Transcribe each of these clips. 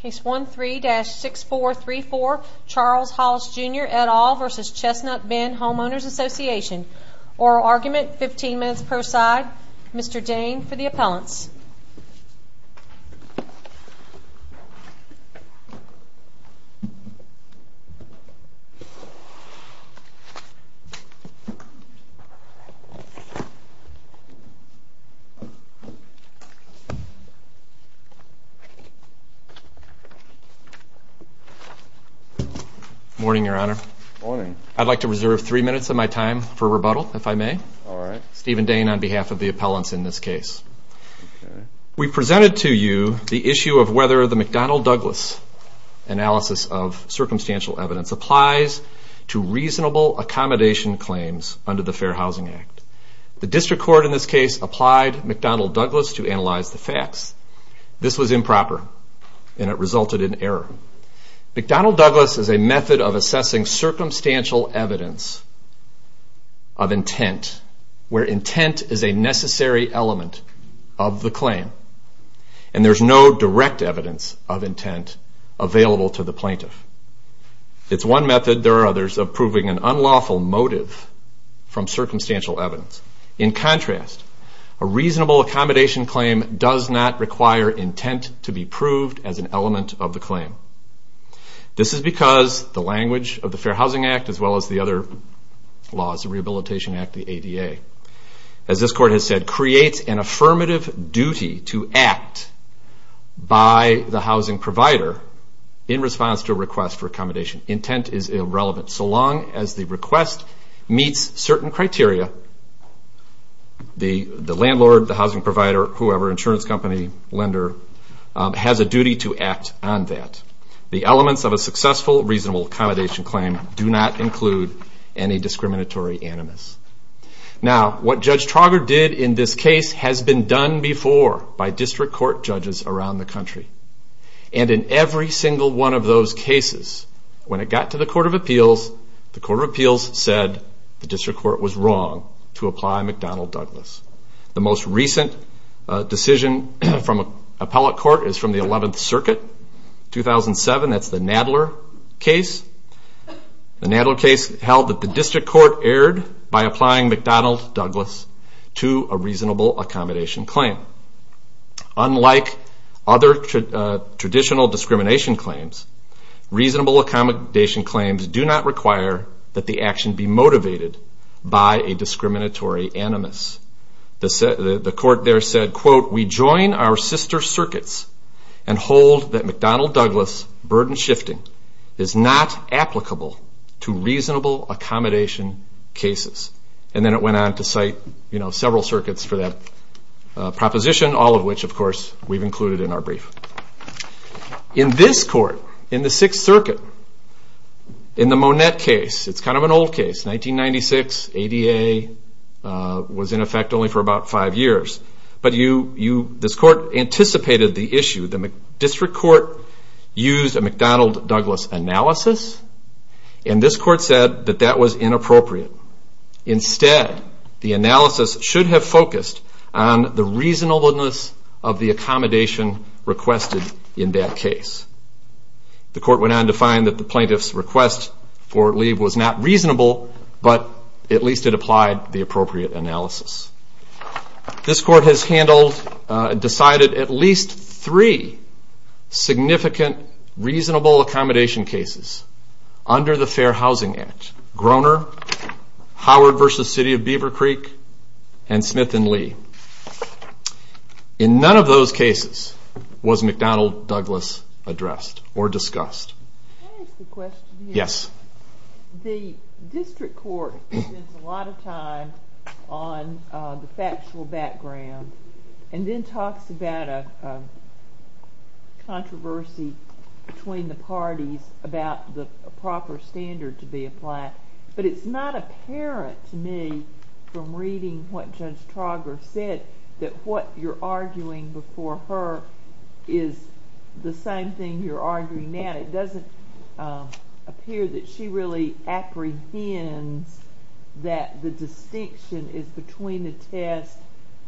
Case 13-6434 Charles Hollis Jr. et al. v. Chestnut Bend Homeowners Association Oral argument, 15 minutes per side. Mr. Dane for the appellants. Morning, Your Honor. Morning. I'd like to reserve three minutes of my time for rebuttal, if I may. All right. Stephen Dane on behalf of the appellants in this case. We presented to you the issue of whether the McDonnell-Douglas analysis of circumstantial evidence applies to reasonable accommodation claims under the Fair Housing Act. The district court in this case applied McDonnell-Douglas to analyze the facts. This was improper. And it resulted in error. McDonnell-Douglas is a method of assessing circumstantial evidence of intent, where intent is a necessary element of the claim. And there's no direct evidence of intent available to the plaintiff. It's one method. There are others of proving an unlawful motive from circumstantial evidence. In contrast, a reasonable accommodation claim does not require intent to be proved as an element of the claim. This is because the language of the Fair Housing Act, as well as the other laws, the Rehabilitation Act, the ADA, as this court has said, creates an affirmative duty to act by the housing provider in response to a request for accommodation. Intent is irrelevant. So long as the request meets certain criteria, the landlord, the housing provider, whoever, insurance company, lender, has a duty to act on that. The elements of a successful reasonable accommodation claim do not include any discriminatory animus. Now, what Judge Trauger did in this case has been done before by district court judges around the country. And in every single one of those cases, when it got to the Court of Appeals, the Court of Appeals said the district court was wrong to apply McDonald-Douglas. The most recent decision from appellate court is from the 11th Circuit, 2007. That's the Nadler case. The Nadler case held that the district court erred by applying McDonald-Douglas to a reasonable accommodation claim. Unlike other traditional discrimination claims, reasonable accommodation claims do not require that the action be motivated by a discriminatory animus. The court there said, quote, we join our sister circuits and hold that McDonald-Douglas burden shifting is not applicable to reasonable accommodation cases. And then it went on to cite, you know, several circuits for that proposition, all of which, of course, we've included in our brief. In this court, in the 6th Circuit, in the Monette case, it's kind of an old case, 1996, ADA was in effect only for about five years, but this court anticipated the issue. The district court used a McDonald-Douglas analysis, and this court said that that was inappropriate. Instead, the analysis should have focused on the reasonableness of the accommodation requested in that case. The court went on to find that the plaintiff's request for leave was not reasonable, but at least it applied the appropriate analysis. This court has handled, decided at least three significant reasonable accommodation cases under the Fair Housing Act, Groner, Howard v. City of Beaver Creek, and Smith v. Lee. In none of those cases was McDonald-Douglas addressed or discussed. Can I ask a question here? Yes. The district court spends a lot of time on the factual background and then talks about a controversy between the parties about the proper standard to be applied, but it's not apparent to me from reading what Judge Trauger said that what you're arguing before her is the same thing you're arguing now. It doesn't appear that she really apprehends that the distinction is between a test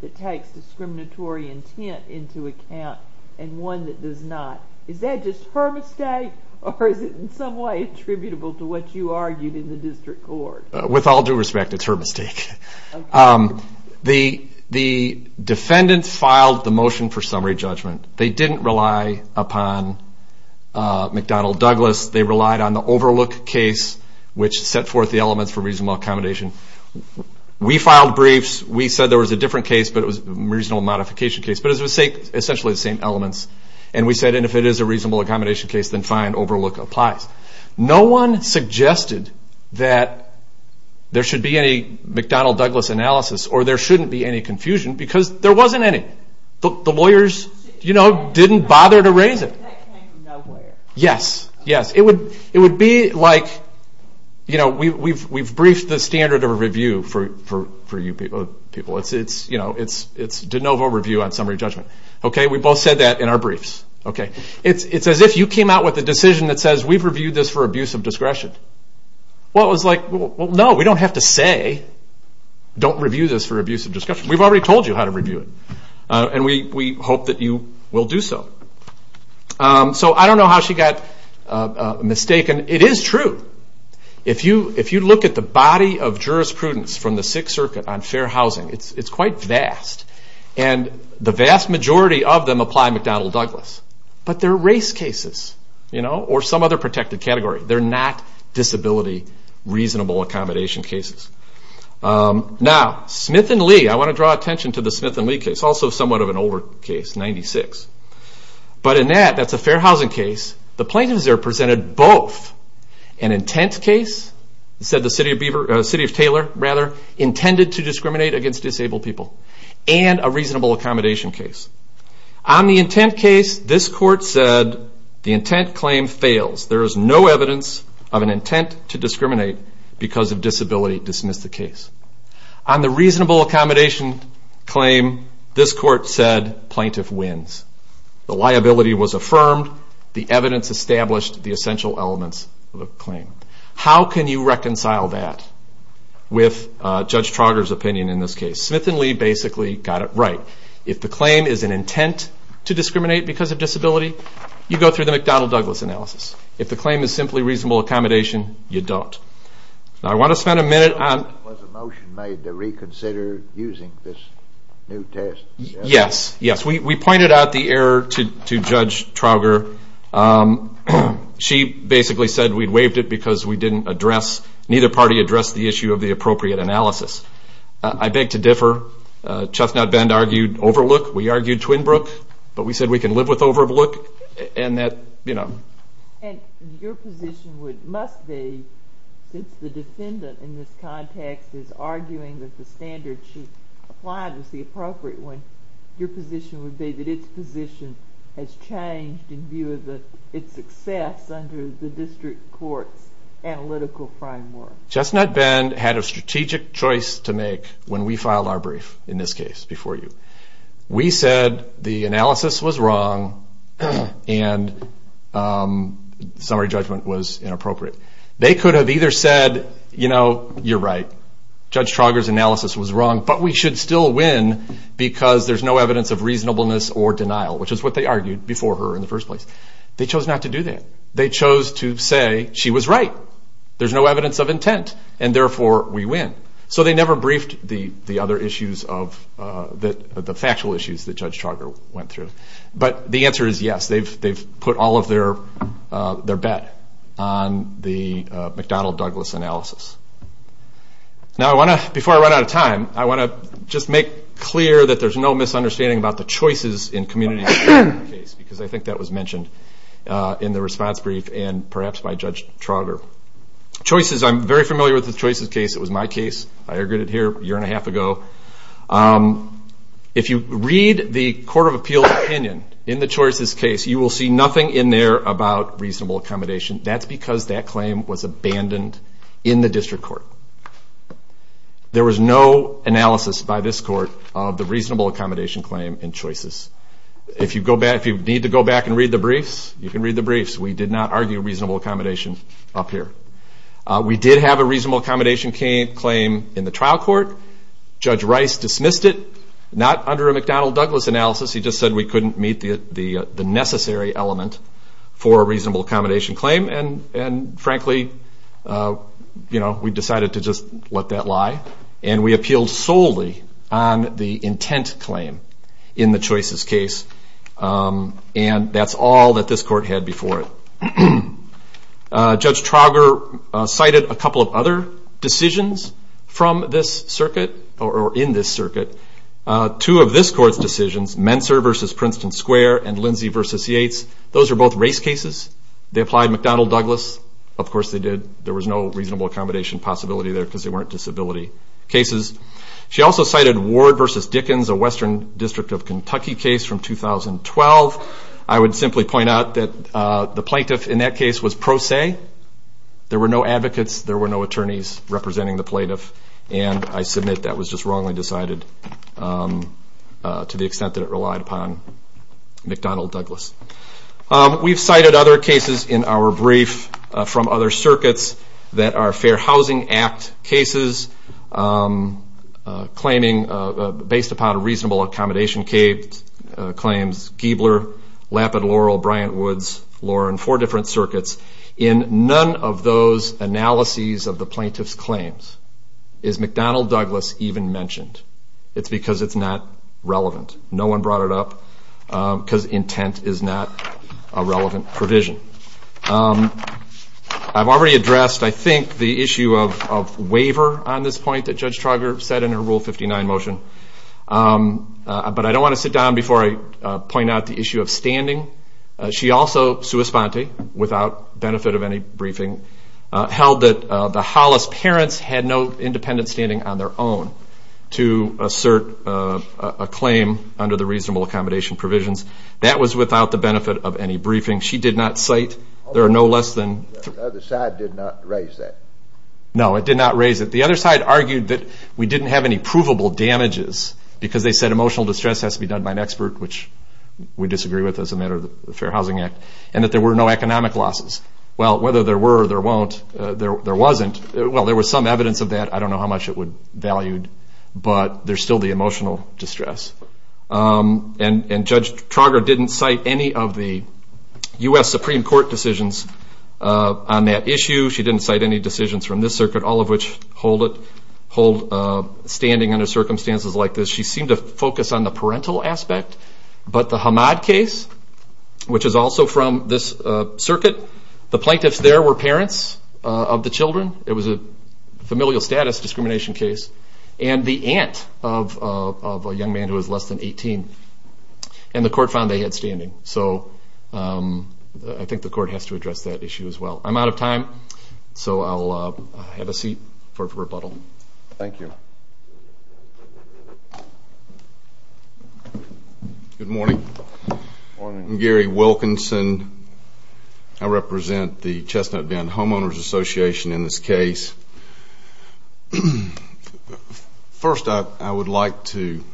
that takes discriminatory intent into account and one that does not. Is that just her mistake, or is it in some way attributable to what you argued in the district court? With all due respect, it's her mistake. The defendants filed the motion for summary judgment. They didn't rely upon McDonald-Douglas. They relied on the Overlook case, which set forth the elements for reasonable accommodation. We filed briefs. We said there was a different case, but it was a reasonable modification case, but it was essentially the same elements. And we said if it is a reasonable accommodation case, then fine, Overlook applies. No one suggested that there should be any McDonald-Douglas analysis or there shouldn't be any confusion because there wasn't any. The lawyers didn't bother to raise it. That came from nowhere. Yes, yes. It would be like we've briefed the standard of a review for you people. It's de novo review on summary judgment. We both said that in our briefs. It's as if you came out with a decision that says we've reviewed this for abuse of discretion. No, we don't have to say don't review this for abuse of discretion. We've already told you how to review it, and we hope that you will do so. So I don't know how she got mistaken. It is true. If you look at the body of jurisprudence from the Sixth Circuit on fair housing, it's quite vast, and the vast majority of them apply McDonald-Douglas, but they're race cases or some other protected category. They're not disability reasonable accommodation cases. Now, Smith and Lee, I want to draw attention to the Smith and Lee case, also somewhat of an older case, 96. But in that, that's a fair housing case, the plaintiffs there presented both an intent case, said the city of Taylor, intended to discriminate against disabled people, and a reasonable accommodation case. On the intent case, this court said the intent claim fails. There is no evidence of an intent to discriminate because of disability. Dismiss the case. On the reasonable accommodation claim, this court said plaintiff wins. The liability was affirmed. The evidence established the essential elements of the claim. How can you reconcile that with Judge Trauger's opinion in this case? Smith and Lee basically got it right. If the claim is an intent to discriminate because of disability, you go through the McDonald-Douglas analysis. If the claim is simply reasonable accommodation, you don't. Now, I want to spend a minute on- Was a motion made to reconsider using this new test? Yes, yes. We pointed out the error to Judge Trauger. She basically said we'd waived it because we didn't address, neither party addressed the issue of the appropriate analysis. I beg to differ. Chuffnut Bend argued overlook. We argued Twinbrook. But we said we can live with overlook. Your position must be, since the defendant in this context is arguing that the standard she applied was the appropriate one, your position would be that its position has changed in view of its success under the district court's analytical framework. Chuffnut Bend had a strategic choice to make when we filed our brief, in this case, before you. We said the analysis was wrong and summary judgment was inappropriate. They could have either said, you know, you're right. Judge Trauger's analysis was wrong, but we should still win because there's no evidence of reasonableness or denial, which is what they argued before her in the first place. They chose not to do that. They chose to say she was right. There's no evidence of intent, and therefore we win. So they never briefed the other issues of the factual issues that Judge Trauger went through. But the answer is yes, they've put all of their bet on the McDonnell-Douglas analysis. Now I want to, before I run out of time, I want to just make clear that there's no misunderstanding about the choices in communities in this case because I think that was mentioned in the response brief and perhaps by Judge Trauger. Choices, I'm very familiar with the choices case. It was my case. I argued it here a year and a half ago. If you read the Court of Appeals opinion in the choices case, you will see nothing in there about reasonable accommodation. That's because that claim was abandoned in the district court. There was no analysis by this court of the reasonable accommodation claim in choices. If you need to go back and read the briefs, you can read the briefs. We did not argue reasonable accommodation up here. We did have a reasonable accommodation claim in the trial court. Judge Rice dismissed it, not under a McDonnell-Douglas analysis. He just said we couldn't meet the necessary element for a reasonable accommodation claim. And frankly, we decided to just let that lie. And we appealed solely on the intent claim in the choices case. And that's all that this court had before it. Judge Trauger cited a couple of other decisions from this circuit or in this circuit. Two of this court's decisions, Menser v. Princeton Square and Lindsey v. Yates, those are both race cases. They applied McDonnell-Douglas. Of course they did. There was no reasonable accommodation possibility there because they weren't disability cases. She also cited Ward v. Dickens, a Western District of Kentucky case from 2012. I would simply point out that the plaintiff in that case was pro se. There were no advocates. There were no attorneys representing the plaintiff. And I submit that was just wrongly decided to the extent that it relied upon McDonnell-Douglas. We've cited other cases in our brief from other circuits that are Fair Housing Act cases based upon reasonable accommodation claims. Giebler, Lapid, Laurel, Bryant, Woods, Loren, four different circuits. In none of those analyses of the plaintiff's claims is McDonnell-Douglas even mentioned. It's because it's not relevant. No one brought it up because intent is not a relevant provision. I've already addressed, I think, the issue of waiver on this point that Judge Trauger said in her Rule 59 motion. But I don't want to sit down before I point out the issue of standing. She also, sua sponte, without benefit of any briefing, held that the Hollis parents had no independent standing on their own to assert a claim under the reasonable accommodation provisions. That was without the benefit of any briefing. She did not cite there are no less than... The other side did not raise that. No, it did not raise it. The other side argued that we didn't have any provable damages because they said emotional distress has to be done by an expert, which we disagree with as a matter of the Fair Housing Act, and that there were no economic losses. Well, whether there were or there won't, there wasn't. Well, there was some evidence of that. I don't know how much it would value, but there's still the emotional distress. And Judge Trauger didn't cite any of the U.S. Supreme Court decisions on that issue. She didn't cite any decisions from this circuit, all of which hold standing under circumstances like this. She seemed to focus on the parental aspect. But the Hamad case, which is also from this circuit, the plaintiffs there were parents of the children. It was a familial status discrimination case. And the aunt of a young man who was less than 18. And the court found they had standing. So I think the court has to address that issue as well. I'm out of time, so I'll have a seat for rebuttal. Thank you. Good morning. Morning. I'm Gary Wilkinson. I represent the Chestnut Bend Homeowners Association in this case. First, I would like to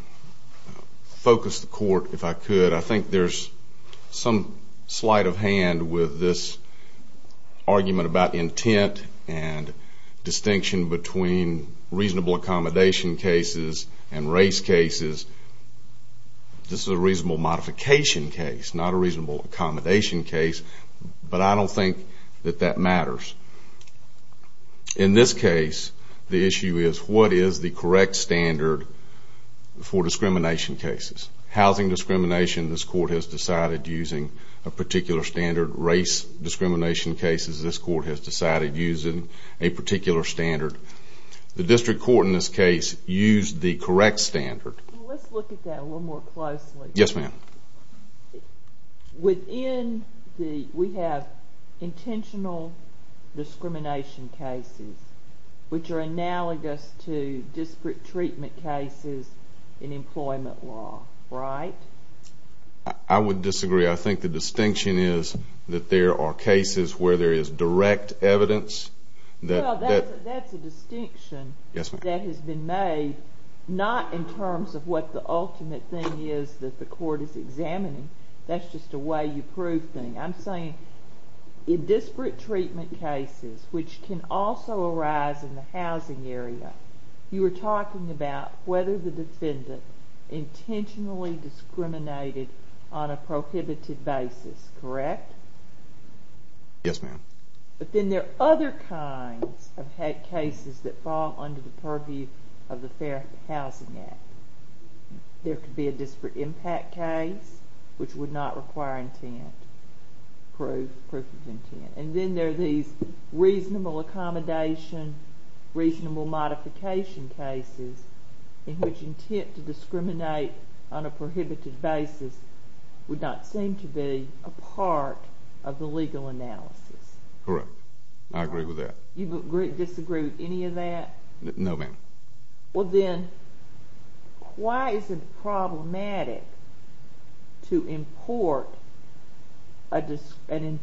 focus the court, if I could. I think there's some sleight of hand with this argument about intent and distinction between reasonable accommodation cases and race cases. This is a reasonable modification case, not a reasonable accommodation case. But I don't think that that matters. In this case, the issue is what is the correct standard for discrimination cases. Housing discrimination, this court has decided, using a particular standard. Race discrimination cases, this court has decided, using a particular standard. The district court in this case used the correct standard. Let's look at that a little more closely. Yes, ma'am. Within the we have intentional discrimination cases, which are analogous to disparate treatment cases in employment law, right? I would disagree. I think the distinction is that there are cases where there is direct evidence. Well, that's a distinction that has been made, not in terms of what the ultimate thing is that the court is examining. That's just a way-you-prove thing. I'm saying in disparate treatment cases, which can also arise in the housing area, you were talking about whether the defendant intentionally discriminated on a prohibited basis, correct? Yes, ma'am. But then there are other kinds of cases that fall under the purview of the Fair Housing Act. There could be a disparate impact case, which would not require intent, proof of intent. And then there are these reasonable accommodation, reasonable modification cases, in which intent to discriminate on a prohibited basis would not seem to be a part of the legal analysis. Correct. I agree with that. You disagree with any of that? No, ma'am. Well, then, why is it problematic to import an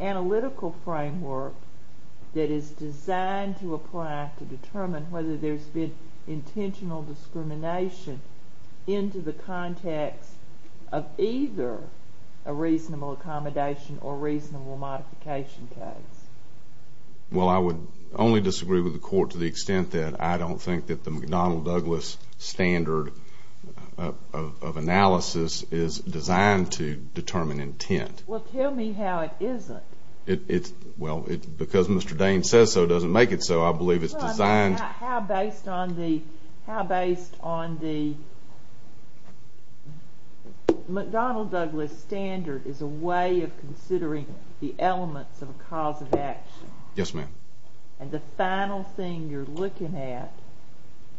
analytical framework that is designed to apply to determine whether there's been intentional discrimination into the context of either a reasonable accommodation or reasonable modification case? Well, I would only disagree with the Court to the extent that I don't think that the McDonnell-Douglas standard of analysis is designed to determine intent. Well, tell me how it isn't. Well, because Mr. Dane says so, it doesn't make it so. I believe it's designed... How based on the McDonnell-Douglas standard is a way of considering the elements of a cause of action? Yes, ma'am. And the final thing you're looking at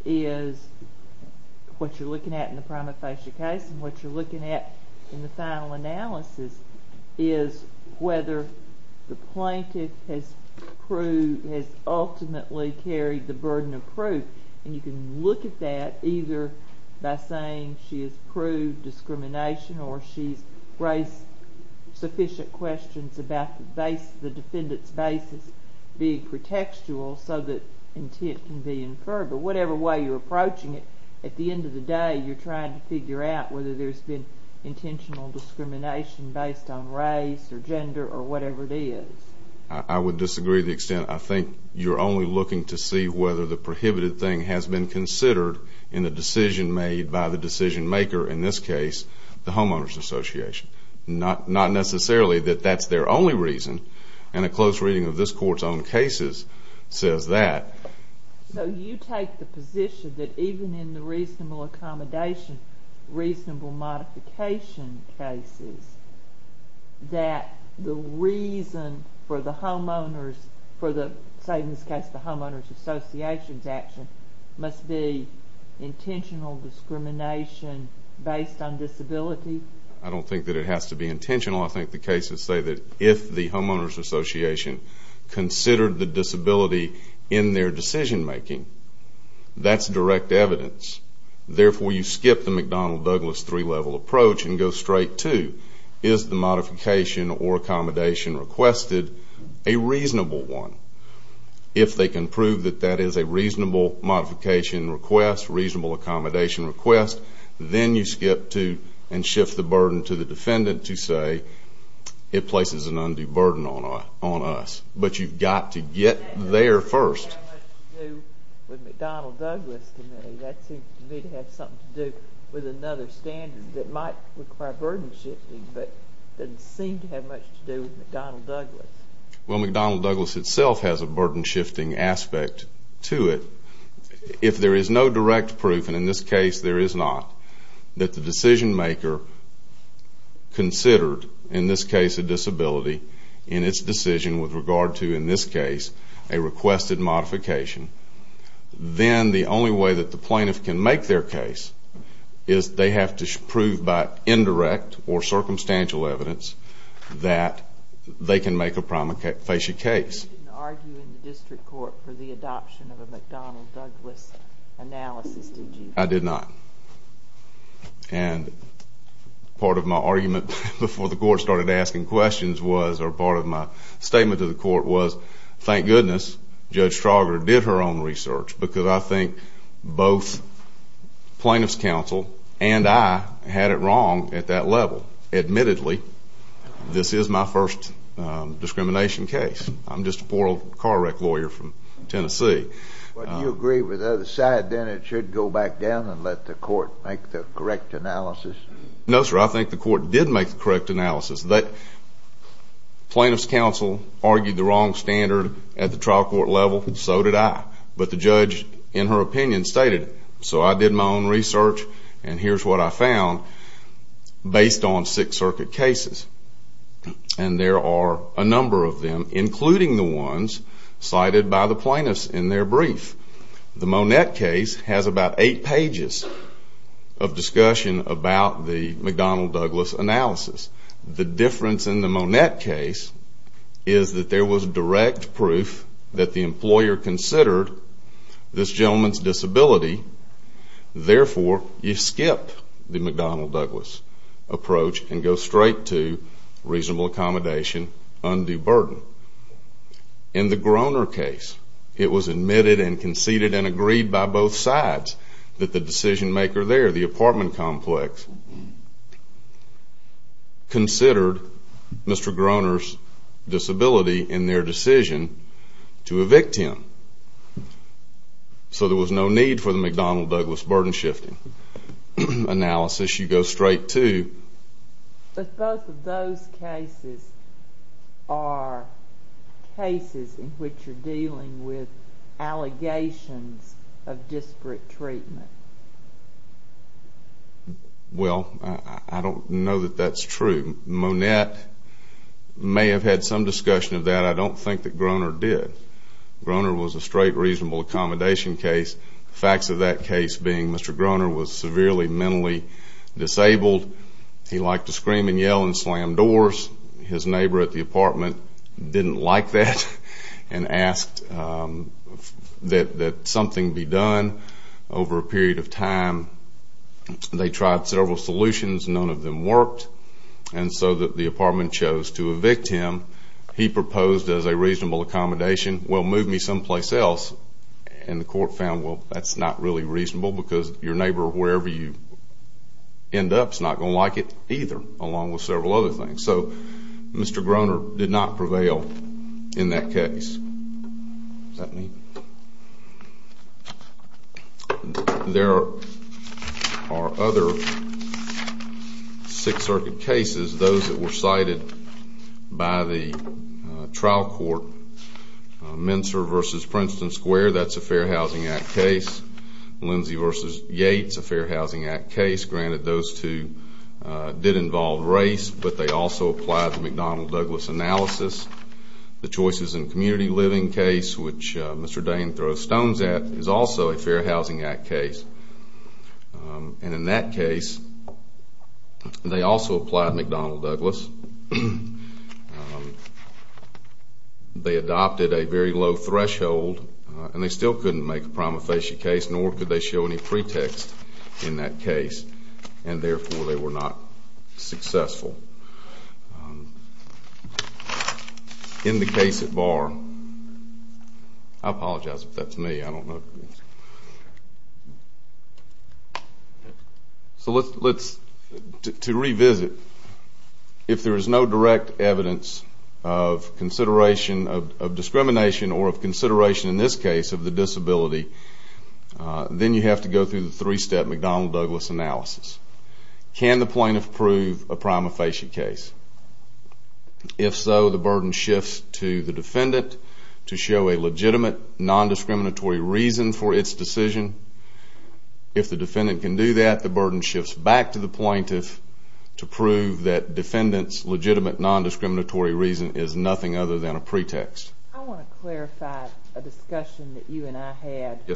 is what you're looking at in the prima facie case and what you're looking at in the final analysis is whether the plaintiff has ultimately carried the burden of proof. And you can look at that either by saying she has proved discrimination or she's raised sufficient questions about the defendant's basis being pretextual so that intent can be inferred. But whatever way you're approaching it, at the end of the day you're trying to figure out whether there's been intentional discrimination based on race or gender or whatever it is. I would disagree to the extent I think you're only looking to see whether the prohibited thing has been considered in a decision made by the decision maker, in this case, the homeowners association. Not necessarily that that's their only reason. And a close reading of this Court's own cases says that. So you take the position that even in the reasonable accommodation, reasonable modification cases, that the reason for the homeowners, say in this case the homeowners association's action, must be intentional discrimination based on disability? I don't think that it has to be intentional. I think the cases say that if the homeowners association considered the disability in their decision making, that's direct evidence. Therefore, you skip the McDonnell-Douglas three-level approach and go straight to, is the modification or accommodation requested a reasonable one? If they can prove that that is a reasonable modification request, reasonable accommodation request, then you skip to and shift the burden to the defendant to say, it places an undue burden on us. But you've got to get there first. It doesn't seem to have much to do with McDonnell-Douglas to me. That seems to me to have something to do with another standard that might require burden shifting, but doesn't seem to have much to do with McDonnell-Douglas. Well, McDonnell-Douglas itself has a burden shifting aspect to it. If there is no direct proof, and in this case there is not, that the decision maker considered, in this case a disability, in its decision with regard to, in this case, a requested modification, then the only way that the plaintiff can make their case is they have to prove by indirect or circumstantial evidence that they can make a prima facie case. You didn't argue in the district court for the adoption of a McDonnell-Douglas analysis, did you? I did not. And part of my argument before the court started asking questions was, or part of my statement to the court was, thank goodness Judge Trauger did her own research because I think both plaintiff's counsel and I had it wrong at that level. Admittedly, this is my first discrimination case. I'm just a poor old car wreck lawyer from Tennessee. Well, do you agree with the other side, then it should go back down and let the court make the correct analysis? No, sir, I think the court did make the correct analysis. Plaintiff's counsel argued the wrong standard at the trial court level. So did I. But the judge, in her opinion, stated, so I did my own research and here's what I found based on Sixth Circuit cases. And there are a number of them, including the ones cited by the plaintiffs in their brief. The Monette case has about eight pages of discussion about the McDonnell-Douglas analysis. The difference in the Monette case is that there was direct proof that the employer considered this gentleman's disability. Therefore, you skip the McDonnell-Douglas approach and go straight to reasonable accommodation, undue burden. In the Groner case, it was admitted and conceded and agreed by both sides that the decision maker there, the apartment complex, considered Mr. Groner's disability in their decision to evict him. So there was no need for the McDonnell-Douglas burden-shifting analysis. You go straight to... But both of those cases are cases in which you're dealing with allegations of disparate treatment. Well, I don't know that that's true. Monette may have had some discussion of that. I don't think that Groner did. Groner was a straight reasonable accommodation case. Facts of that case being Mr. Groner was severely mentally disabled. He liked to scream and yell and slam doors. His neighbor at the apartment didn't like that and asked that something be done. Over a period of time, they tried several solutions. None of them worked. And so the apartment chose to evict him. He proposed as a reasonable accommodation, well, move me someplace else. And the court found, well, that's not really reasonable because your neighbor, wherever you end up, is not going to like it either, along with several other things. So Mr. Groner did not prevail in that case. There are other Sixth Circuit cases, those that were cited by the trial court. Mincer v. Princeton Square, that's a Fair Housing Act case. Lindsey v. Yates, a Fair Housing Act case. Granted, those two did involve race, but they also applied the McDonnell-Douglas analysis. The Choices in Community Living case, which Mr. Dayen throws stones at, is also a Fair Housing Act case. And in that case, they also applied McDonnell-Douglas. They adopted a very low threshold and they still couldn't make a prima facie case, nor could they show any pretext in that case, and therefore they were not successful. In the case at bar, I apologize if that's me, I don't know. So let's, to revisit, if there is no direct evidence of consideration of discrimination or of consideration in this case of the disability, then you have to go through the three-step McDonnell-Douglas analysis. Can the plaintiff prove a prima facie case? If so, the burden shifts to the defendant to show a legitimate non-discriminatory reason for its decision. If the defendant can do that, the burden shifts back to the plaintiff to prove that defendant's legitimate non-discriminatory reason is nothing other than a pretext. I want to clarify a discussion that you and I had a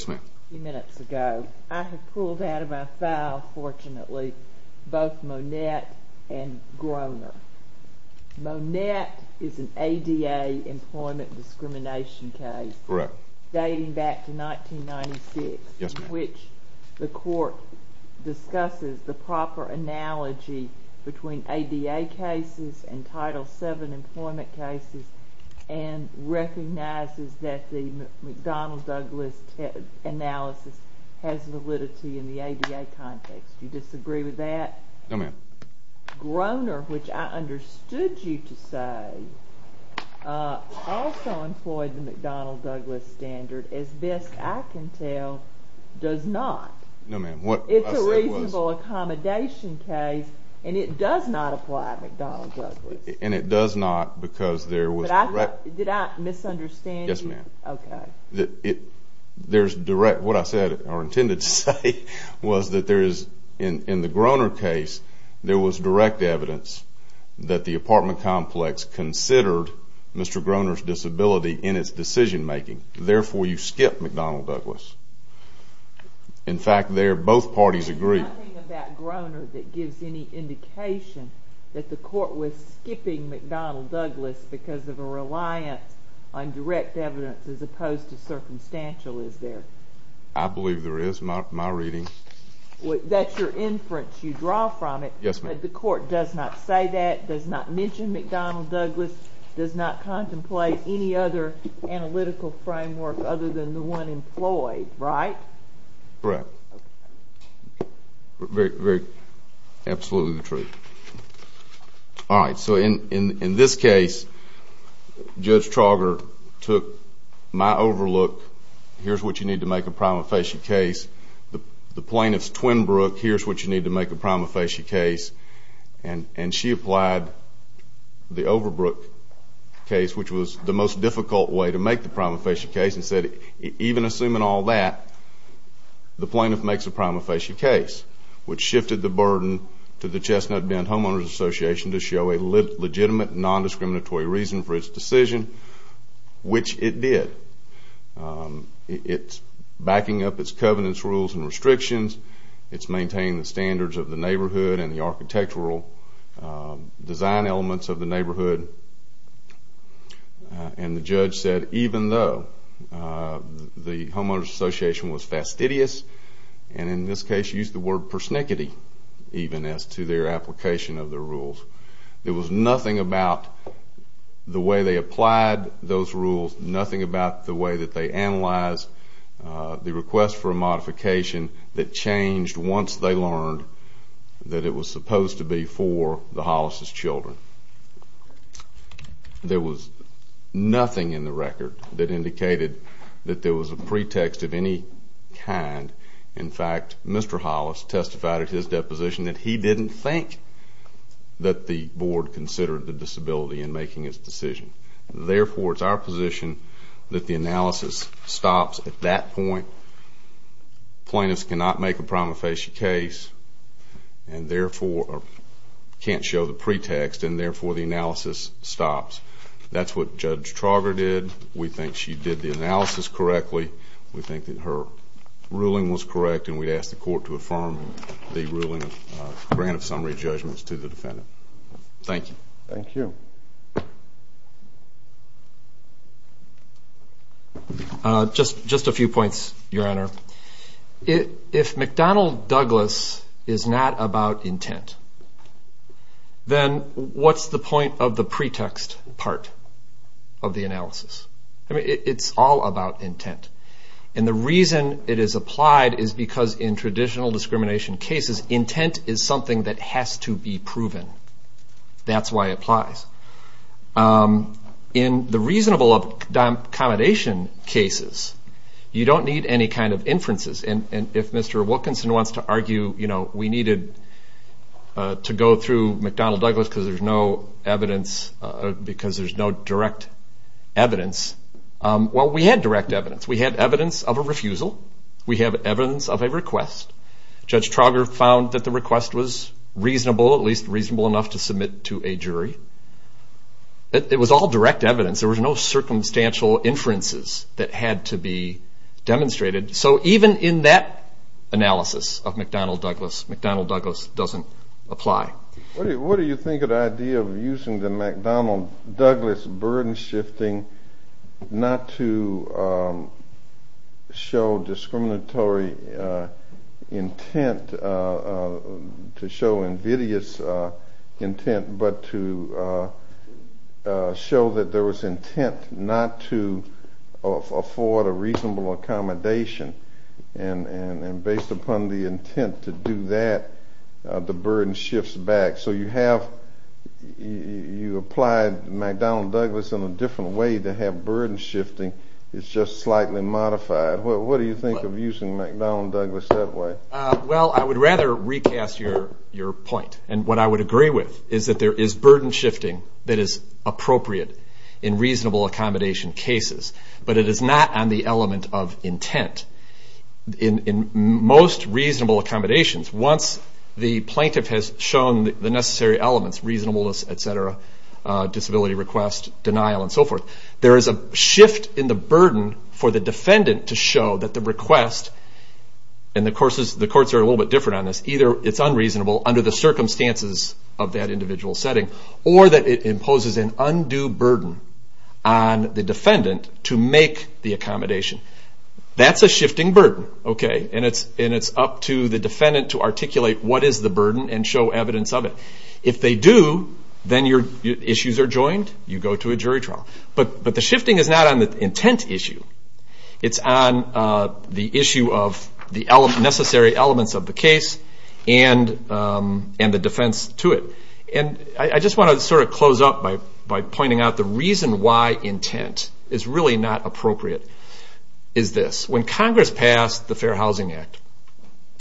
few minutes ago. I have pulled out of my file, fortunately, both Monette and Groener. Monette is an ADA employment discrimination case dating back to 1996, in which the court discusses the proper analogy between ADA cases and Title VII employment cases and recognizes that the McDonnell-Douglas analysis has validity in the ADA context. Do you disagree with that? No, ma'am. Groener, which I understood you to say, also employed the McDonnell-Douglas standard. As best I can tell, it does not. No, ma'am. It's a reasonable accommodation case, and it does not apply to McDonnell-Douglas. And it does not because there was— Did I misunderstand you? Yes, ma'am. Okay. What I said or intended to say was that in the Groener case, there was direct evidence that the apartment complex considered Mr. Groener's disability in its decision-making. Therefore, you skip McDonnell-Douglas. In fact, there, both parties agree. There's nothing about Groener that gives any indication that the court was skipping McDonnell-Douglas because of a reliance on direct evidence as opposed to circumstantial, is there? I believe there is, in my reading. Yes, ma'am. But the court does not say that, does not mention McDonnell-Douglas, does not contemplate any other analytical framework other than the one employed, right? Correct. Very—absolutely the truth. All right. So in this case, Judge Trauger took my overlook, here's what you need to make a prima facie case, the plaintiff's twin brook, here's what you need to make a prima facie case, and she applied the Overbrook case, which was the most difficult way to make the prima facie case, and said even assuming all that, the plaintiff makes a prima facie case, which shifted the burden to the Chestnut Bend Homeowners Association to show a legitimate non-discriminatory reason for its decision, which it did. It's backing up its covenants, rules, and restrictions. It's maintaining the standards of the neighborhood and the architectural design elements of the neighborhood. And the judge said even though the Homeowners Association was fastidious, and in this case used the word persnickety even as to their application of the rules, there was nothing about the way they applied those rules, there was nothing about the way that they analyzed the request for a modification that changed once they learned that it was supposed to be for the Hollis' children. There was nothing in the record that indicated that there was a pretext of any kind. In fact, Mr. Hollis testified at his deposition that he didn't think that the board considered the disability in making its decision. Therefore, it's our position that the analysis stops at that point. Plaintiffs cannot make a prima facie case and therefore can't show the pretext, and therefore the analysis stops. That's what Judge Trauger did. We think she did the analysis correctly. We think that her ruling was correct, and we'd ask the court to affirm the ruling grant of summary judgments to the defendant. Thank you. Thank you. Just a few points, Your Honor. If McDonnell-Douglas is not about intent, then what's the point of the pretext part of the analysis? It's all about intent, and the reason it is applied is because in traditional discrimination cases, intent is something that has to be proven. That's why it applies. In the reasonable accommodation cases, you don't need any kind of inferences, and if Mr. Wilkinson wants to argue we needed to go through McDonnell-Douglas because there's no direct evidence, well, we had direct evidence. We had evidence of a refusal. We have evidence of a request. Judge Trauger found that the request was reasonable, at least reasonable enough to submit to a jury. It was all direct evidence. There was no circumstantial inferences that had to be demonstrated. So even in that analysis of McDonnell-Douglas, McDonnell-Douglas doesn't apply. What do you think of the idea of using the McDonnell-Douglas burden shifting not to show discriminatory intent, to show invidious intent, but to show that there was intent not to afford a reasonable accommodation, and based upon the intent to do that, the burden shifts back. So you applied McDonnell-Douglas in a different way to have burden shifting. It's just slightly modified. What do you think of using McDonnell-Douglas that way? Well, I would rather recast your point, and what I would agree with is that there is burden shifting that is appropriate in reasonable accommodation cases, but it is not on the element of intent. In most reasonable accommodations, once the plaintiff has shown the necessary elements, reasonableness, et cetera, disability request, denial, and so forth, there is a shift in the burden for the defendant to show that the request, and the courts are a little bit different on this, either it's unreasonable under the circumstances of that individual setting, or that it imposes an undue burden on the defendant to make the accommodation. That's a shifting burden. Okay, and it's up to the defendant to articulate what is the burden and show evidence of it. If they do, then your issues are joined, you go to a jury trial. But the shifting is not on the intent issue. It's on the issue of the necessary elements of the case and the defense to it. I just want to sort of close up by pointing out the reason why intent is really not appropriate is this. When Congress passed the Fair Housing Act,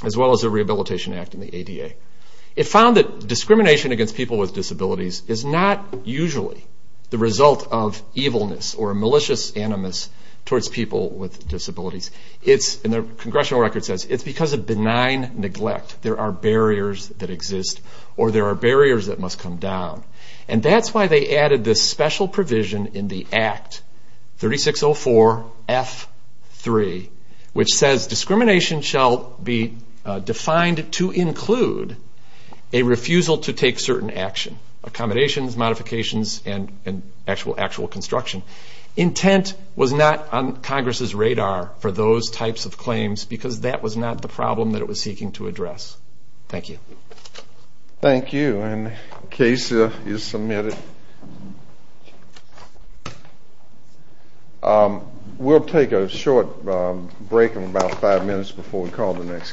as well as the Rehabilitation Act and the ADA, it found that discrimination against people with disabilities is not usually the result of evilness or malicious animus towards people with disabilities. The congressional record says it's because of benign neglect. There are barriers that exist, or there are barriers that must come down. And that's why they added this special provision in the Act 3604 F3, which says discrimination shall be defined to include a refusal to take certain action, accommodations, modifications, and actual construction. Intent was not on Congress's radar for those types of claims because that was not the problem that it was seeking to address. Thank you. Thank you. And the case is submitted. We'll take a short break in about five minutes before we call the next case.